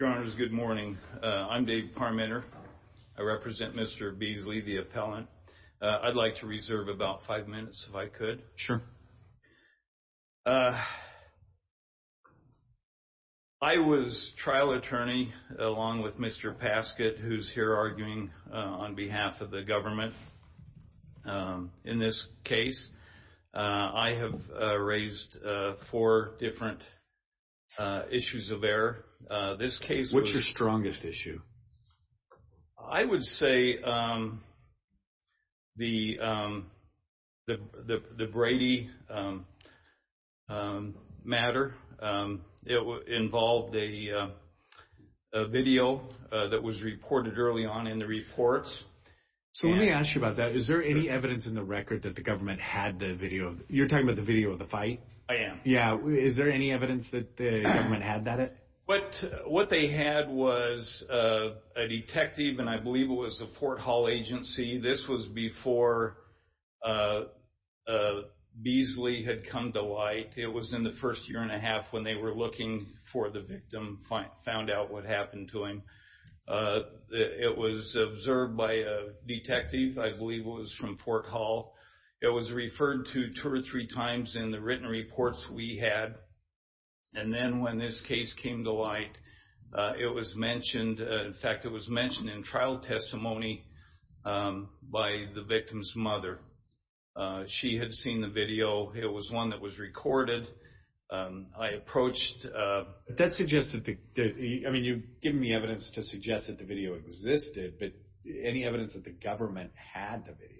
Your honors, good morning. I'm Dave Parmenter. I represent Mr. Beasley, the appellant. I'd like to reserve about five minutes if I could. Sure. I was trial attorney along with Mr. Paskett, who's here arguing on behalf of the government in this case. I have raised four different issues of error. What's your strongest issue? I would say the Brady matter. It involved a video that was reported early on in the reports. So let me ask you about that. Is there any evidence in the record that the government had the video? You're talking about the video of the fight? I am. Yeah. Is there any evidence that the government had that? What they had was a detective, and I believe it was a Fort Hall agency. This was before Beasley had come to light. It was in the first year and a half when they were looking for the victim, found out what happened to him. It was observed by a detective. I believe it was from Fort Hall. It was referred to two or three times in the written reports we had. And then when this case came to light, it was mentioned. In fact, it was mentioned in trial testimony by the victim's mother. She had seen the video. It was one that was recorded. You've given me evidence to suggest that the video existed, but any evidence that the government had the video?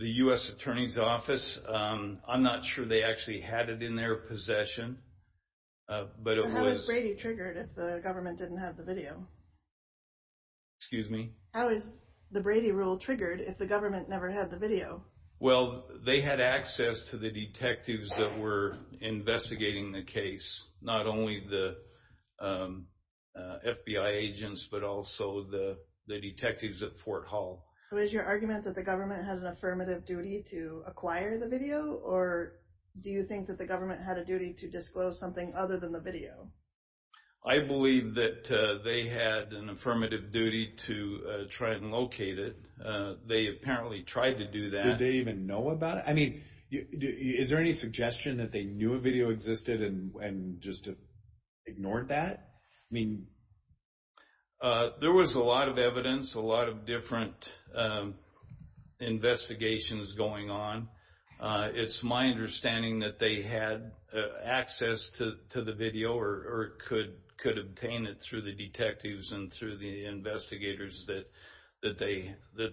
The U.S. Attorney's Office, I'm not sure they actually had it in their possession. How was Brady triggered if the government didn't have the video? Excuse me? How is the Brady rule triggered if the government never had the video? Well, they had access to the detectives that were investigating the case, not only the FBI agents, but also the detectives at Fort Hall. So is your argument that the government had an affirmative duty to acquire the video, or do you think that the government had a duty to disclose something other than the video? I believe that they had an affirmative duty to try and locate it. They apparently tried to do that. Did they even know about it? I mean, is there any suggestion that they knew a video existed and just ignored that? There was a lot of evidence, a lot of different investigations going on. It's my understanding that they had access to the video or could obtain it through the detectives and through the investigators that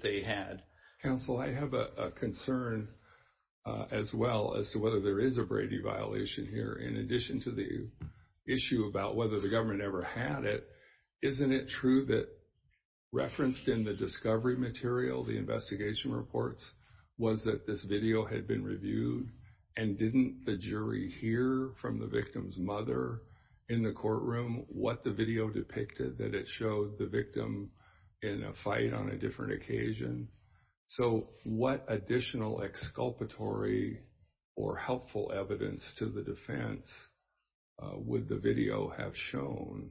they had. Counsel, I have a concern as well as to whether there is a Brady violation here. In addition to the issue about whether the government ever had it, isn't it true that referenced in the discovery material, the investigation reports, was that this video had been reviewed, and didn't the jury hear from the victim's mother in the courtroom what the video depicted, that it showed the victim in a fight on a different occasion? So what additional exculpatory or helpful evidence to the defense would the video have shown,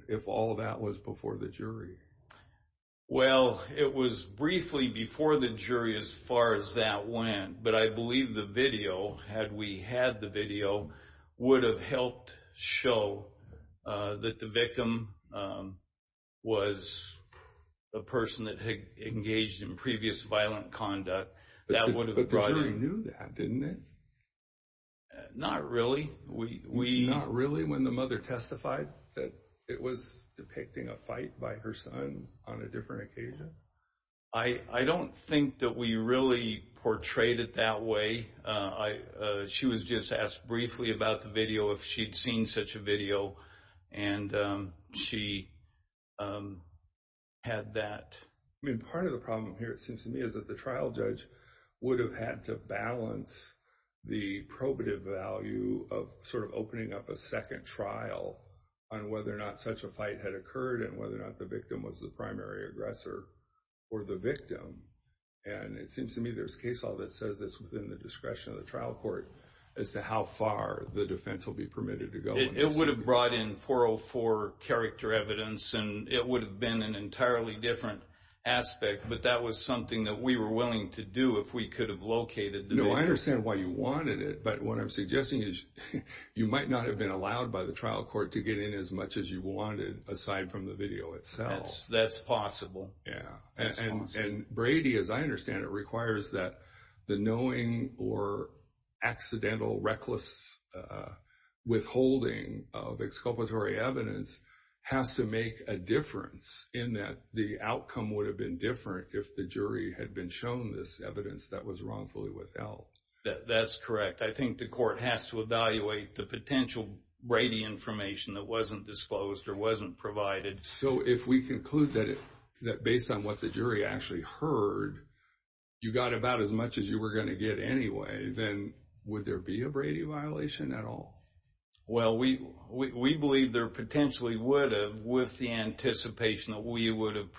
Well, it was briefly before the jury as far as that went, but I believe the video, had we had the video, would have helped show that the victim was a person that had engaged in previous violent conduct. But the jury knew that, didn't it? Not really. Not really when the mother testified that it was depicting a fight by her son on a different occasion? I don't think that we really portrayed it that way. She was just asked briefly about the video, if she'd seen such a video, and she had that. I mean, part of the problem here, it seems to me, is that the trial judge would have had to balance the probative value of sort of opening up a second trial on whether or not such a fight had occurred, and whether or not the victim was the primary aggressor or the victim. And it seems to me there's case law that says this within the discretion of the trial court, as to how far the defense will be permitted to go. It would have brought in 404 character evidence, and it would have been an entirely different aspect, but that was something that we were willing to do if we could have located the victim. No, I understand why you wanted it, but what I'm suggesting is you might not have been allowed by the trial court to get in as much as you wanted, aside from the video itself. That's possible. And Brady, as I understand it, requires that the knowing or accidental, reckless withholding of exculpatory evidence has to make a difference, in that the outcome would have been different if the jury had been shown this evidence that was wrongfully withheld. That's correct. I think the court has to evaluate the potential Brady information that wasn't disclosed or wasn't provided. So if we conclude that based on what the jury actually heard, you got about as much as you were going to get anyway, then would there be a Brady violation at all? Well, we believe there potentially would have, with the anticipation that we would have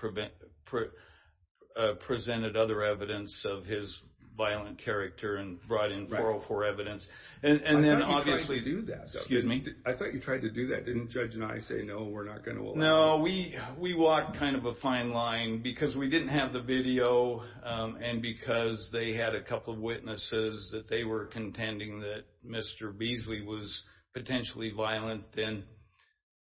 presented other evidence of his violent character and brought in 404 evidence. I thought you tried to do that. Excuse me? I thought you tried to do that. Didn't Judge and I say, no, we're not going to withhold? No, we walked kind of a fine line because we didn't have the video and because they had a couple of witnesses that they were contending that Mr. Beasley was potentially violent, then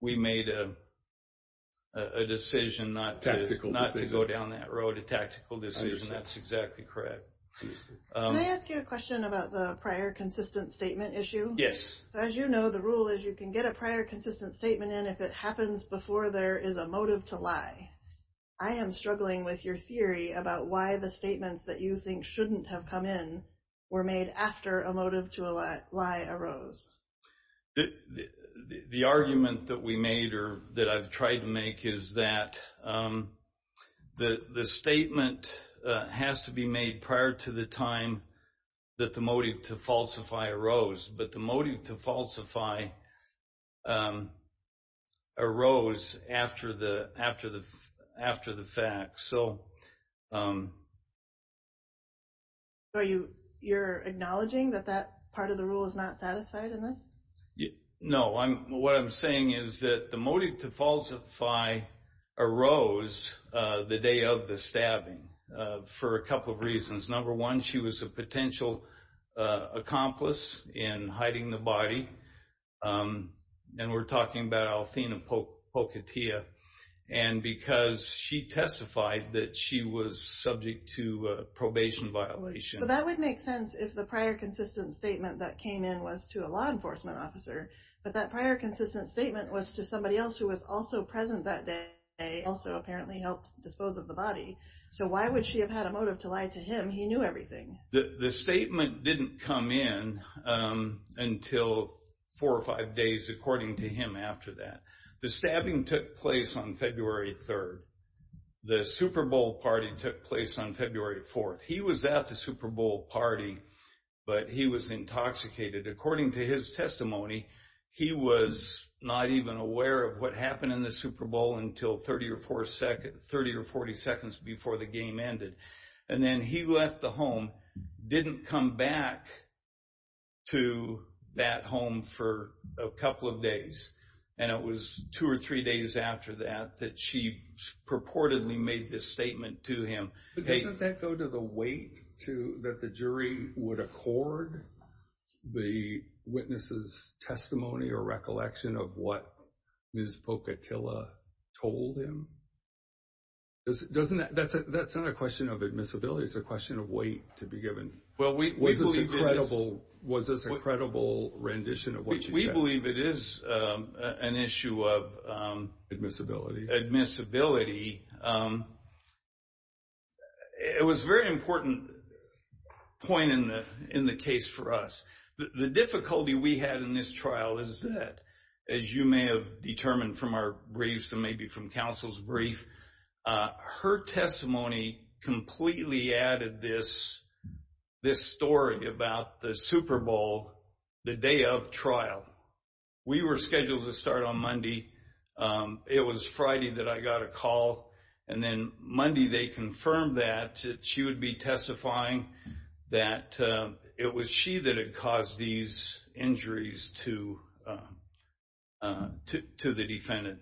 we made a decision not to go down that road, a tactical decision. That's exactly correct. Can I ask you a question about the prior consistent statement issue? Yes. So as you know, the rule is you can get a prior consistent statement in if it happens before there is a motive to lie. I am struggling with your theory about why the statements that you think shouldn't have come in were made after a motive to lie arose. The argument that we made or that I've tried to make is that the statement has to be made prior to the time that the motive to falsify arose. But the motive to falsify arose after the fact. So you're acknowledging that that part of the rule is not satisfied in this? No. What I'm saying is that the motive to falsify arose the day of the stabbing for a couple of reasons. Number one, she was a potential accomplice in hiding the body. And we're talking about Althina Pocatia. And because she testified that she was subject to a probation violation. That would make sense if the prior consistent statement that came in was to a law enforcement officer. But that prior consistent statement was to somebody else who was also present that day, also apparently helped dispose of the body. So why would she have had a motive to lie to him? He knew everything. The statement didn't come in until four or five days according to him after that. The stabbing took place on February 3rd. The Super Bowl party took place on February 4th. He was at the Super Bowl party, but he was intoxicated. According to his testimony, he was not even aware of what happened in the Super Bowl until 30 or 40 seconds before the game ended. And then he left the home, didn't come back to that home for a couple of days. And it was two or three days after that that she purportedly made this statement to him. But doesn't that go to the weight that the jury would accord the witness' testimony or recollection of what Ms. Pocatilla told him? That's not a question of admissibility. It's a question of weight to be given. Was this a credible rendition of what she said? I believe it is an issue of admissibility. It was a very important point in the case for us. The difficulty we had in this trial is that, as you may have determined from our briefs and maybe from counsel's brief, her testimony completely added this story about the Super Bowl, the day of trial. We were scheduled to start on Monday. It was Friday that I got a call, and then Monday they confirmed that she would be testifying, that it was she that had caused these injuries to the defendant.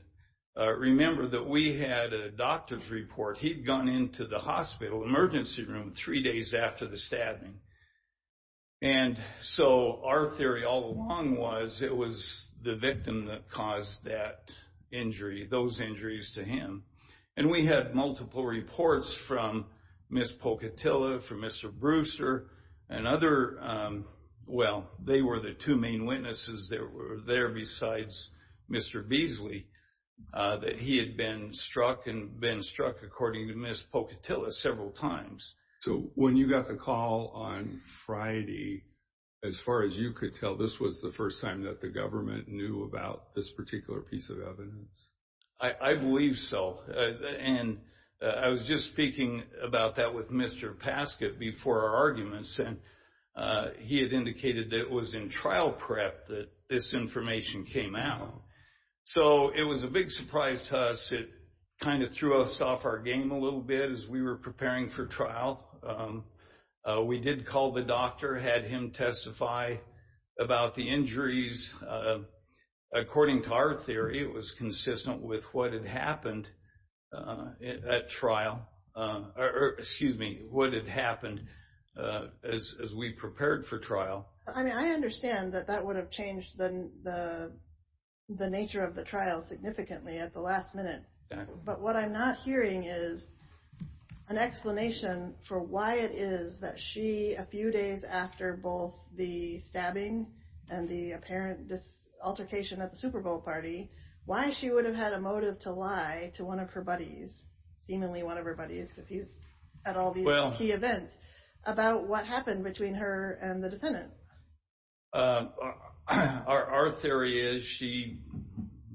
Remember that we had a doctor's report. He'd gone into the hospital emergency room three days after the stabbing. And so our theory all along was it was the victim that caused that injury, those injuries to him. And we had multiple reports from Ms. Pocatilla, from Mr. Brewster, and other, well, they were the two main witnesses that were there besides Mr. Beasley, that he had been struck and been struck, according to Ms. Pocatilla, several times. So when you got the call on Friday, as far as you could tell, this was the first time that the government knew about this particular piece of evidence? I believe so. And I was just speaking about that with Mr. Paskett before our arguments, and he had indicated that it was in trial prep that this information came out. So it was a big surprise to us. It kind of threw us off our game a little bit as we were preparing for trial. We did call the doctor, had him testify about the injuries. According to our theory, it was consistent with what had happened at trial, or excuse me, what had happened as we prepared for trial. I mean, I understand that that would have changed the nature of the trial significantly at the last minute. But what I'm not hearing is an explanation for why it is that she, a few days after both the stabbing and the apparent altercation at the Super Bowl party, why she would have had a motive to lie to one of her buddies, seemingly one of her buddies because he's at all these key events, about what happened between her and the defendant. Our theory is she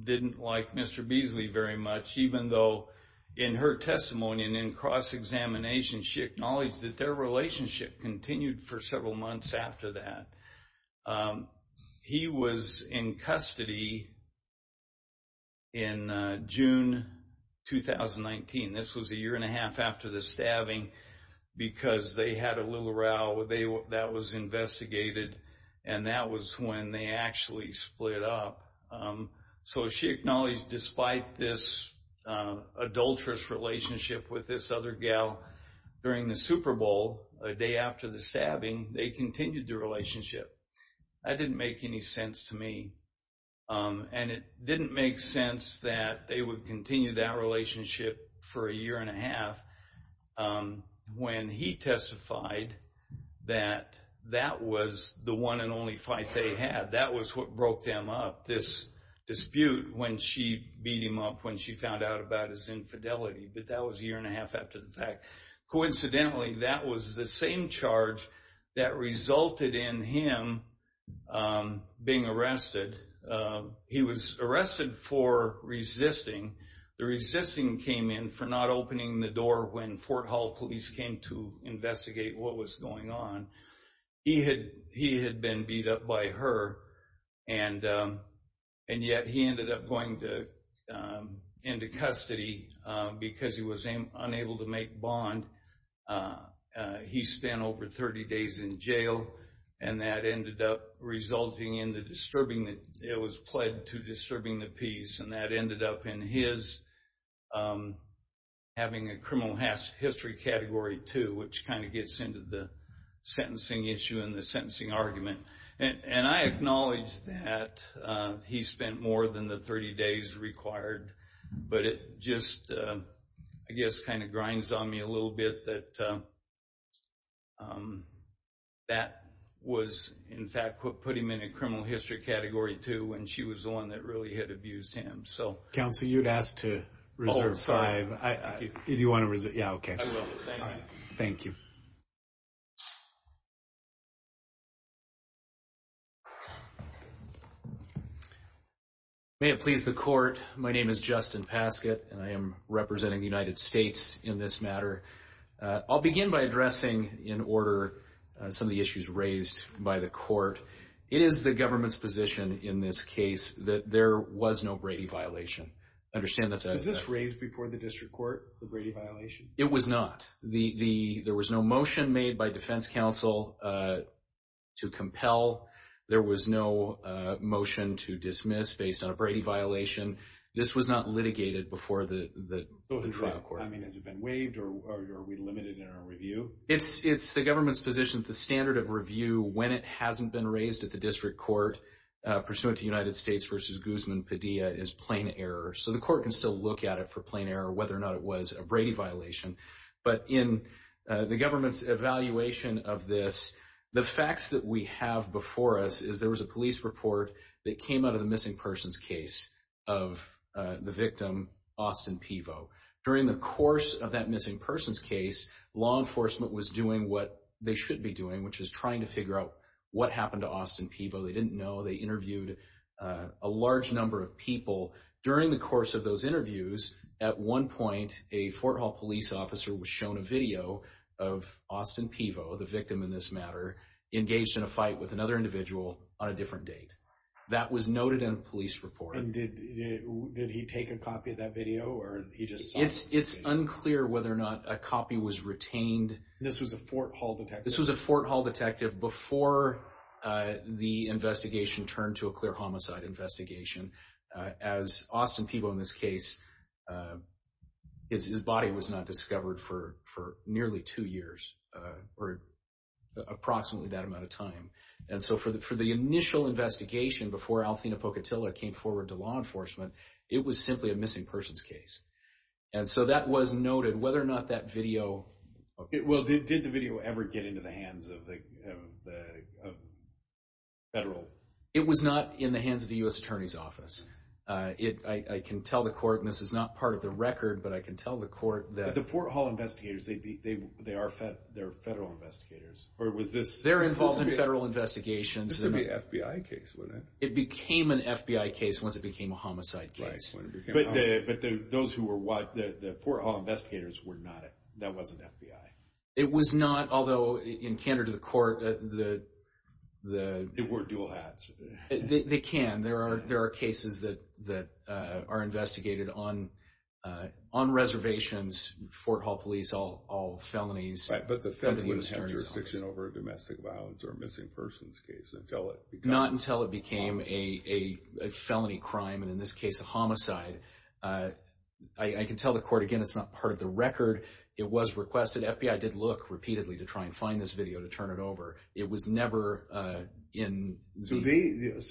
didn't like Mr. Beasley very much, even though in her testimony and in cross-examination, she acknowledged that their relationship continued for several months after that. He was in custody in June 2019. This was a year and a half after the stabbing because they had a little row that was investigated, and that was when they actually split up. So she acknowledged despite this adulterous relationship with this other gal during the Super Bowl, a day after the stabbing, they continued their relationship. That didn't make any sense to me. And it didn't make sense that they would continue that relationship for a year and a half when he testified that that was the one and only fight they had. That was what broke them up, this dispute when she beat him up, when she found out about his infidelity. But that was a year and a half after the fact. Coincidentally, that was the same charge that resulted in him being arrested. He was arrested for resisting. The resisting came in for not opening the door when Fort Hall police came to investigate what was going on. He had been beat up by her, and yet he ended up going into custody because he was unable to make bond. He spent over 30 days in jail, and that ended up resulting in the disturbing. It was pled to disturbing the peace, and that ended up in his having a criminal history Category 2, which kind of gets into the sentencing issue and the sentencing argument. And I acknowledge that he spent more than the 30 days required, but it just, I guess, kind of grinds on me a little bit that that was, in fact, what put him in a criminal history Category 2 when she was the one that really had abused him. Counsel, you'd asked to reserve five. Do you want to reserve? Yeah, okay. I will. Thank you. Thank you. May it please the Court, my name is Justin Paskett, and I am representing the United States in this matter. I'll begin by addressing in order some of the issues raised by the Court. It is the government's position in this case that there was no Brady violation. Understand that's a… Was this raised before the district court, the Brady violation? It was not. There was no motion made by defense counsel to compel. There was no motion to dismiss based on a Brady violation. This was not litigated before the district court. I mean, has it been waived, or are we limited in our review? It's the government's position that the standard of review, when it hasn't been raised at the district court, pursuant to United States v. Guzman-Padilla, is plain error. So the Court can still look at it for plain error, whether or not it was a Brady violation. But in the government's evaluation of this, the facts that we have before us is there was a police report that came out of the missing persons case of the victim, Austin Pivo. During the course of that missing persons case, law enforcement was doing what they should be doing, which is trying to figure out what happened to Austin Pivo. They didn't know. They interviewed a large number of people. During the course of those interviews, at one point, a Fort Hall police officer was shown a video of Austin Pivo, the victim in this matter, engaged in a fight with another individual on a different date. That was noted in a police report. Did he take a copy of that video? It's unclear whether or not a copy was retained. This was a Fort Hall detective? This was a Fort Hall detective before the investigation turned to a clear homicide investigation. As Austin Pivo in this case, his body was not discovered for nearly two years, or approximately that amount of time. For the initial investigation, before Althina Pocatilla came forward to law enforcement, it was simply a missing persons case. That was noted. Did the video ever get into the hands of the federal? It was not in the hands of the U.S. Attorney's Office. I can tell the court, and this is not part of the record, but I can tell the court that... The Fort Hall investigators, they are federal investigators? They're involved in federal investigations. This is going to be an FBI case, wouldn't it? It became an FBI case once it became a homicide case. But the Fort Hall investigators were not, that wasn't FBI? It was not, although in candor to the court, the... They wore dual hats. They can. There are cases that are investigated on reservations, Fort Hall police, all felonies. But the feds wouldn't have jurisdiction over a domestic violence or missing persons case until it... Not until it became a felony crime, and in this case a homicide. I can tell the court, again, it's not part of the record. It was requested. FBI did look repeatedly to try and find this video to turn it over. It was never in... So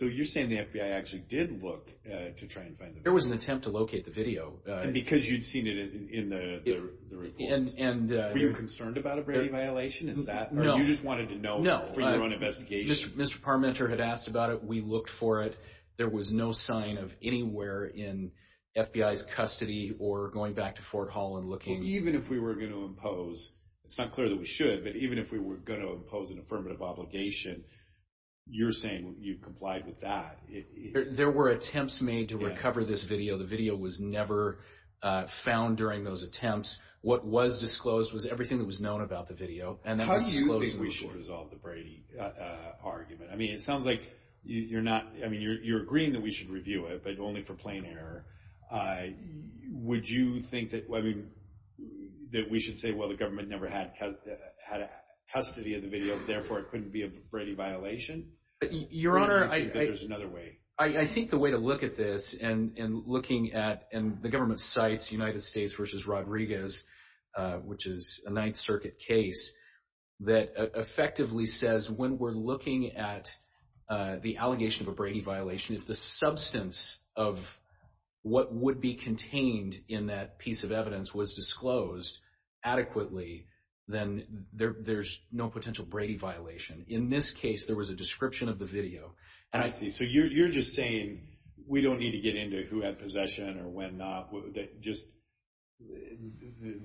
you're saying the FBI actually did look to try and find the video? There was an attempt to locate the video. And because you'd seen it in the report? And... Were you concerned about a brevity violation? Is that... No. Or you just wanted to know for your own investigation? Mr. Parmenter had asked about it. We looked for it. There was no sign of anywhere in FBI's custody or going back to Fort Hall and looking. Even if we were going to impose, it's not clear that we should, but even if we were going to impose an affirmative obligation, you're saying you complied with that. There were attempts made to recover this video. The video was never found during those attempts. What was disclosed was everything that was known about the video, and that was disclosed in the report. How do you think we should resolve the Brady argument? I mean, it sounds like you're not... I mean, you're agreeing that we should review it, but only for plain error. Would you think that... I mean, that we should say, well, the government never had custody of the video, therefore it couldn't be a Brady violation? Your Honor, I... Or do you think that there's another way? I think the way to look at this and looking at the government's sites, United States v. Rodriguez, which is a Ninth Circuit case, that effectively says when we're looking at the allegation of a Brady violation, if the substance of what would be contained in that piece of evidence was disclosed adequately, then there's no potential Brady violation. In this case, there was a description of the video. I see. So you're just saying we don't need to get into who had possession or when not, that just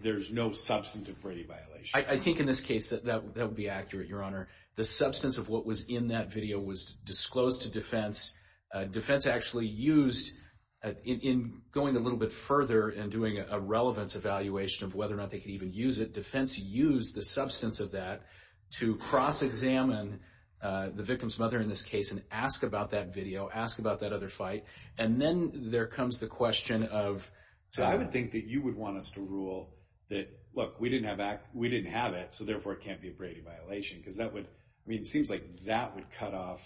there's no substantive Brady violation? I think in this case that would be accurate, Your Honor. The substance of what was in that video was disclosed to defense. Defense actually used, in going a little bit further and doing a relevance evaluation of whether or not they could even use it, the defense used the substance of that to cross-examine the victim's mother in this case and ask about that video, ask about that other fight, and then there comes the question of... So I would think that you would want us to rule that, look, we didn't have it, so therefore it can't be a Brady violation because that would, I mean, it seems like that would cut off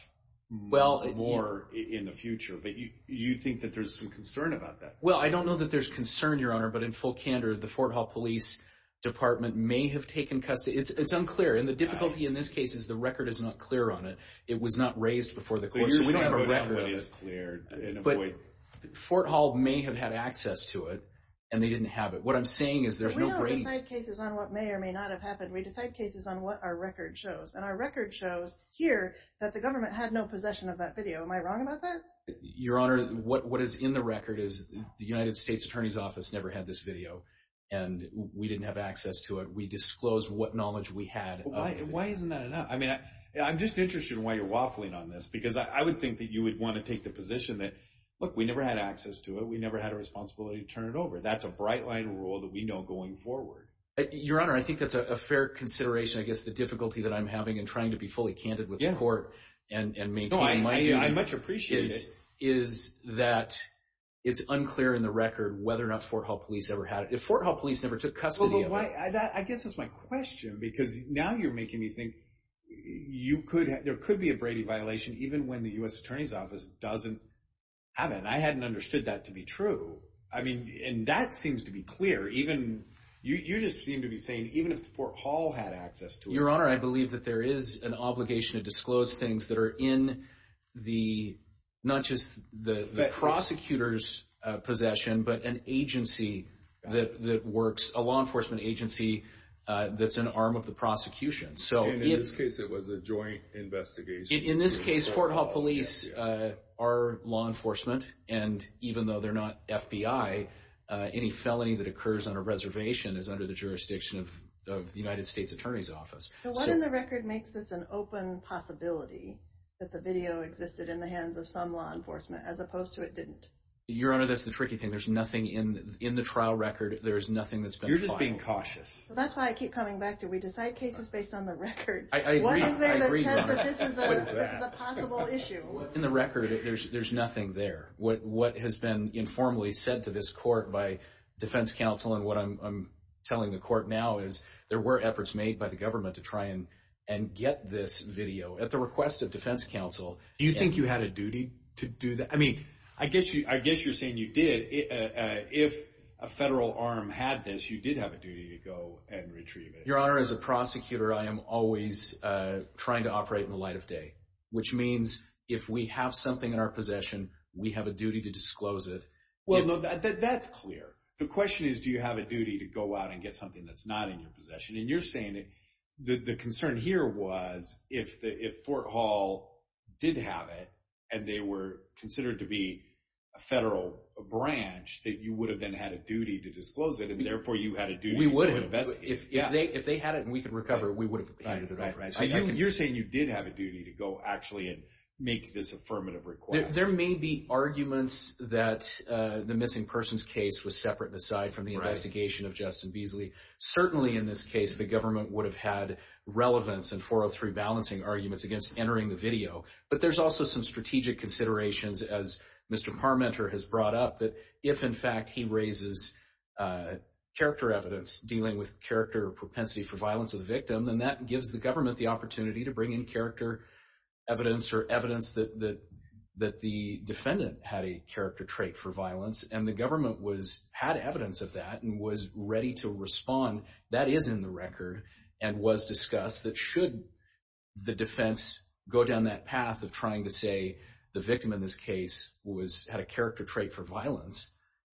more in the future. But you think that there's some concern about that? Well, I don't know that there's concern, Your Honor, but in full candor, the Fort Hall Police Department may have taken custody. It's unclear, and the difficulty in this case is the record is not clear on it. It was not raised before the court, so we don't have a record. But Fort Hall may have had access to it, and they didn't have it. What I'm saying is there's no Brady. We don't decide cases on what may or may not have happened. We decide cases on what our record shows, and our record shows here that the government had no possession of that video. Am I wrong about that? Your Honor, what is in the record is the United States Attorney's Office never had this video, and we didn't have access to it. We disclosed what knowledge we had. Why isn't that enough? I mean, I'm just interested in why you're waffling on this because I would think that you would want to take the position that, look, we never had access to it. We never had a responsibility to turn it over. That's a bright-line rule that we know going forward. Your Honor, I think that's a fair consideration. I guess the difficulty that I'm having in trying to be fully candid with the court and maintain my view is that it's unclear in the record whether or not Fort Hall police ever had it. If Fort Hall police never took custody of it. I guess that's my question because now you're making me think there could be a Brady violation even when the U.S. Attorney's Office doesn't have it, and I hadn't understood that to be true. I mean, and that seems to be clear. You just seem to be saying even if Fort Hall had access to it. Your Honor, I believe that there is an obligation to disclose things that are in the, not just the prosecutor's possession, but an agency that works, a law enforcement agency that's an arm of the prosecution. In this case, it was a joint investigation. In this case, Fort Hall police are law enforcement, and even though they're not FBI, any felony that occurs on a reservation is under the jurisdiction of the United States Attorney's Office. So what in the record makes this an open possibility that the video existed in the hands of some law enforcement as opposed to it didn't? Your Honor, that's the tricky thing. There's nothing in the trial record. There's nothing that's been filed. You're just being cautious. That's why I keep coming back to we decide cases based on the record. I agree. What is there that says that this is a possible issue? In the record, there's nothing there. What has been informally said to this court by defense counsel and what I'm telling the court now is there were efforts made by the government to try and get this video at the request of defense counsel. Do you think you had a duty to do that? I mean, I guess you're saying you did. If a federal arm had this, you did have a duty to go and retrieve it. Your Honor, as a prosecutor, I am always trying to operate in the light of day, which means if we have something in our possession, we have a duty to disclose it. That's clear. The question is do you have a duty to go out and get something that's not in your possession. You're saying the concern here was if Fort Hall did have it and they were considered to be a federal branch, that you would have then had a duty to disclose it and therefore you had a duty to go and investigate. We would have. If they had it and we could recover, we would have handed it over. You're saying you did have a duty to go actually and make this affirmative request. There may be arguments that the missing persons case was separate aside from the investigation of Justin Beasley. Certainly in this case, the government would have had relevance in 403 balancing arguments against entering the video. But there's also some strategic considerations, as Mr. Parmenter has brought up, that if, in fact, he raises character evidence dealing with character propensity for violence of the victim, then that gives the government the opportunity to bring in character evidence or evidence that the defendant had a character trait for violence. And the government had evidence of that and was ready to respond. That is in the record and was discussed that should the defense go down that path of trying to say the victim in this case had a character trait for violence,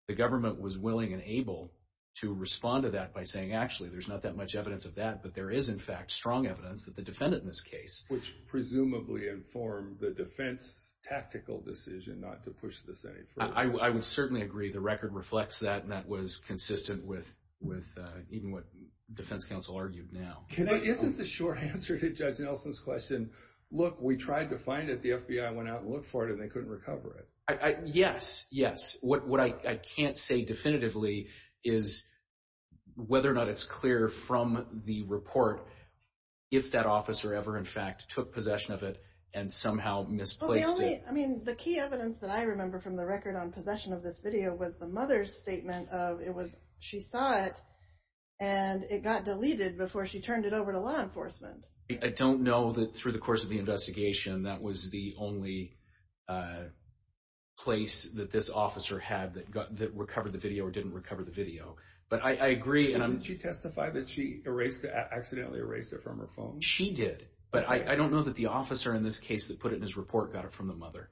the government was willing and able to respond to that by saying, actually, there's not that much evidence of that, but there is, in fact, strong evidence that the defendant in this case. Which presumably informed the defense's tactical decision not to push this any further. I would certainly agree. The record reflects that, and that was consistent with even what defense counsel argued now. But isn't the short answer to Judge Nelson's question, look, we tried to find it, the FBI went out and looked for it, and they couldn't recover it? Yes, yes. What I can't say definitively is whether or not it's clear from the report if that officer ever, in fact, took possession of it and somehow misplaced it. The key evidence that I remember from the record on possession of this video was the mother's statement of she saw it, and it got deleted before she turned it over to law enforcement. I don't know that through the course of the investigation, that was the only place that this officer had that recovered the video or didn't recover the video. But I agree. Didn't she testify that she accidentally erased it from her phone? She did, but I don't know that the officer in this case that put it in his report got it from the mother.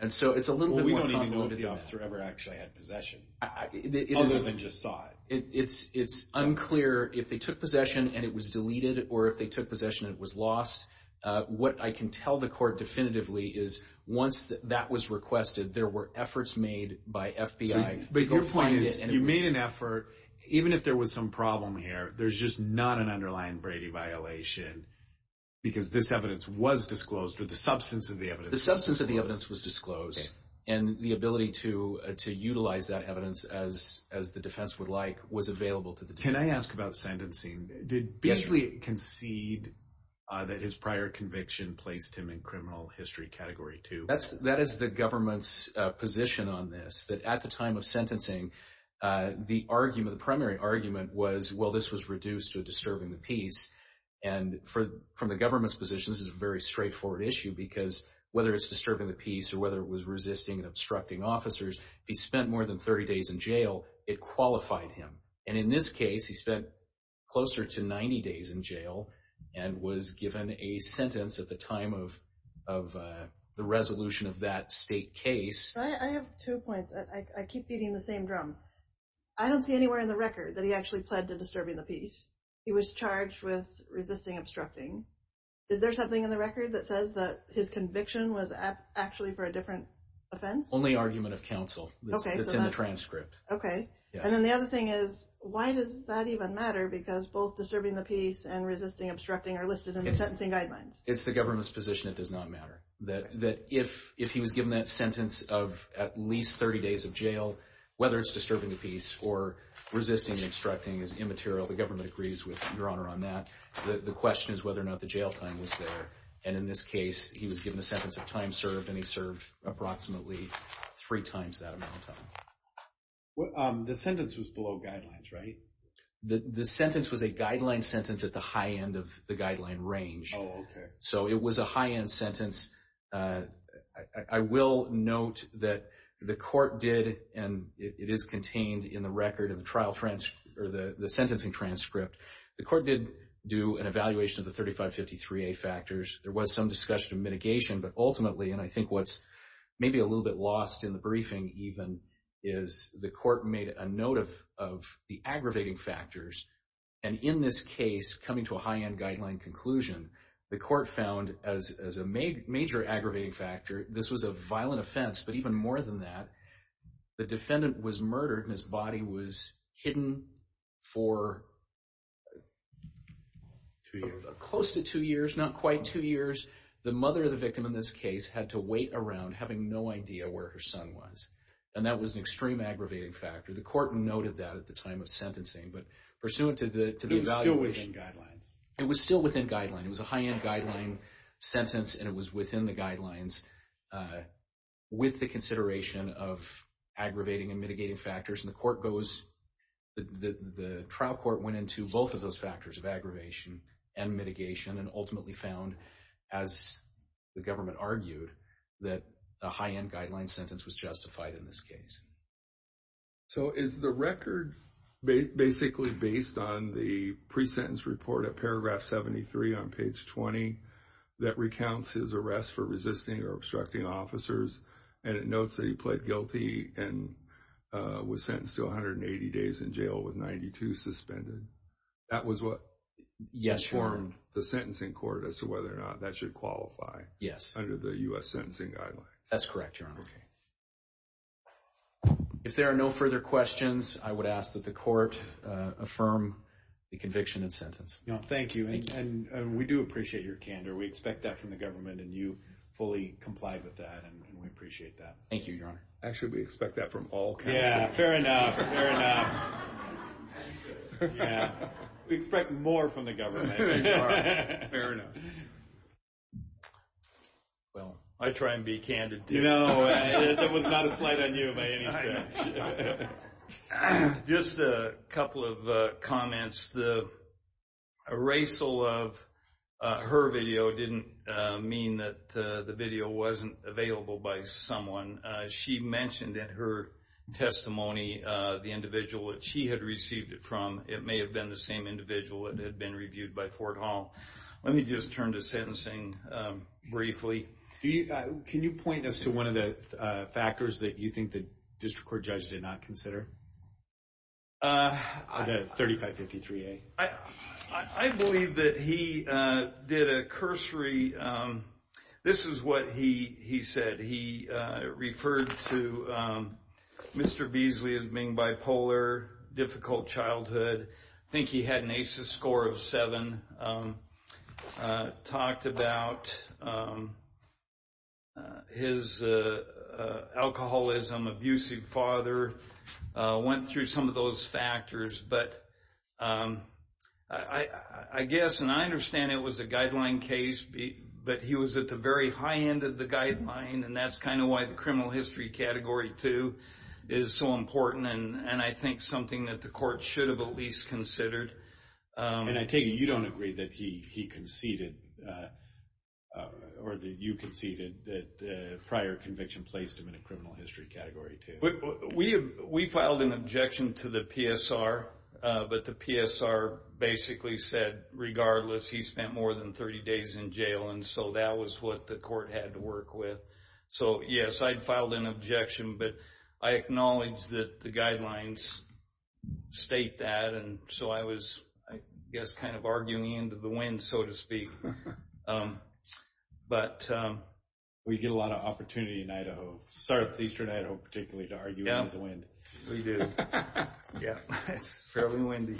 And so it's a little bit more complicated than that. We don't even know if the officer ever actually had possession, other than just saw it. It's unclear if they took possession and it was deleted, or if they took possession and it was lost. What I can tell the court definitively is once that was requested, there were efforts made by FBI to go find it. But your point is you made an effort, even if there was some problem here, there's just not an underlying Brady violation because this evidence was disclosed or the substance of the evidence was disclosed. The substance of the evidence was disclosed, and the ability to utilize that evidence as the defense would like was available to the defense. Can I ask about sentencing? Did Beasley concede that his prior conviction placed him in criminal history category 2? That is the government's position on this, that at the time of sentencing, the primary argument was, well, this was reduced to a disturbing the peace. And from the government's position, this is a very straightforward issue because whether it's disturbing the peace or whether it was resisting and obstructing officers, if he spent more than 30 days in jail, it qualified him. And in this case, he spent closer to 90 days in jail and was given a sentence at the time of the resolution of that state case. I have two points. I keep beating the same drum. I don't see anywhere in the record that he actually pled to disturbing the peace. He was charged with resisting obstructing. Is there something in the record that says that his conviction was actually for a different offense? Only argument of counsel that's in the transcript. Okay. And then the other thing is, why does that even matter? Because both disturbing the peace and resisting obstructing are listed in the sentencing guidelines. It's the government's position it does not matter. That if he was given that sentence of at least 30 days of jail, whether it's disturbing the peace or resisting and obstructing is immaterial. The government agrees with Your Honor on that. The question is whether or not the jail time was there. And in this case, he was given a sentence of time served, and he served approximately three times that amount of time. The sentence was below guidelines, right? The sentence was a guideline sentence at the high end of the guideline range. Oh, okay. So it was a high-end sentence. I will note that the court did, and it is contained in the record of the trial transcript, or the sentencing transcript, the court did do an evaluation of the 3553A factors. There was some discussion of mitigation, but ultimately, and I think what's maybe a little bit lost in the briefing even, is the court made a note of the aggravating factors. And in this case, coming to a high-end guideline conclusion, the court found as a major aggravating factor, this was a violent offense, but even more than that, the defendant was murdered and his body was hidden for close to two years, not quite two years. The mother of the victim in this case had to wait around, having no idea where her son was. And that was an extreme aggravating factor. The court noted that at the time of sentencing, but pursuant to the evaluation. It was still within guidelines. It was still within guidelines. It was a high-end guideline sentence, and it was within the guidelines with the consideration of aggravating and mitigating factors. And the trial court went into both of those factors of aggravation and mitigation and ultimately found, as the government argued, that a high-end guideline sentence was justified in this case. So is the record basically based on the pre-sentence report at paragraph 73 on page 20 that recounts his arrest for resisting or obstructing officers, and it notes that he pled guilty and was sentenced to 180 days in jail with 92 suspended? That was what informed the sentencing court as to whether or not that should qualify under the U.S. Sentencing Guidelines. That's correct, Your Honor. If there are no further questions, I would ask that the court affirm the conviction and sentence. Thank you, and we do appreciate your candor. We expect that from the government, and you fully complied with that, and we appreciate that. Thank you, Your Honor. Actually, we expect that from all candidates. Yeah, fair enough, fair enough. We expect more from the government. Fair enough. Well, I try and be candid, too. No, that was not a slight on you by any stretch. Just a couple of comments. The erasal of her video didn't mean that the video wasn't available by someone. She mentioned in her testimony the individual that she had received it from. It may have been the same individual that had been reviewed by Fort Hall. Let me just turn to sentencing briefly. Can you point us to one of the factors that you think the district court judge did not consider? The 3553A. I believe that he did a cursory. This is what he said. He referred to Mr. Beasley as being bipolar, difficult childhood. I think he had an ACES score of 7. Talked about his alcoholism, abusive father, went through some of those factors. But I guess, and I understand it was a guideline case, but he was at the very high end of the guideline, and that's kind of why the criminal history Category 2 is so important and I think something that the court should have at least considered. And I take it you don't agree that he conceded, or that you conceded, that the prior conviction placed him in a criminal history Category 2. We filed an objection to the PSR, but the PSR basically said, regardless, he spent more than 30 days in jail, and so that was what the court had to work with. So, yes, I'd filed an objection, but I acknowledge that the guidelines state that, and so I was, I guess, kind of arguing into the wind, so to speak. We get a lot of opportunity in Idaho, southeastern Idaho particularly, to argue into the wind. We do. It's fairly windy.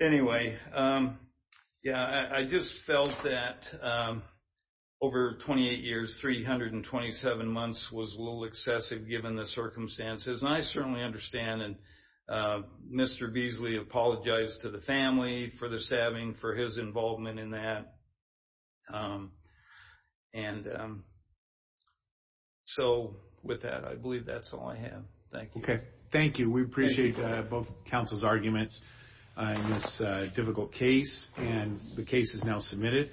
Anyway, yeah, I just felt that over 28 years, 327 months was a little excessive given the circumstances, and I certainly understand, and Mr. Beasley apologized to the family for the stabbing, for his involvement in that, and so with that, I believe that's all I have. Thank you. Okay. Thank you. We appreciate both counsel's arguments in this difficult case, and the case is now submitted.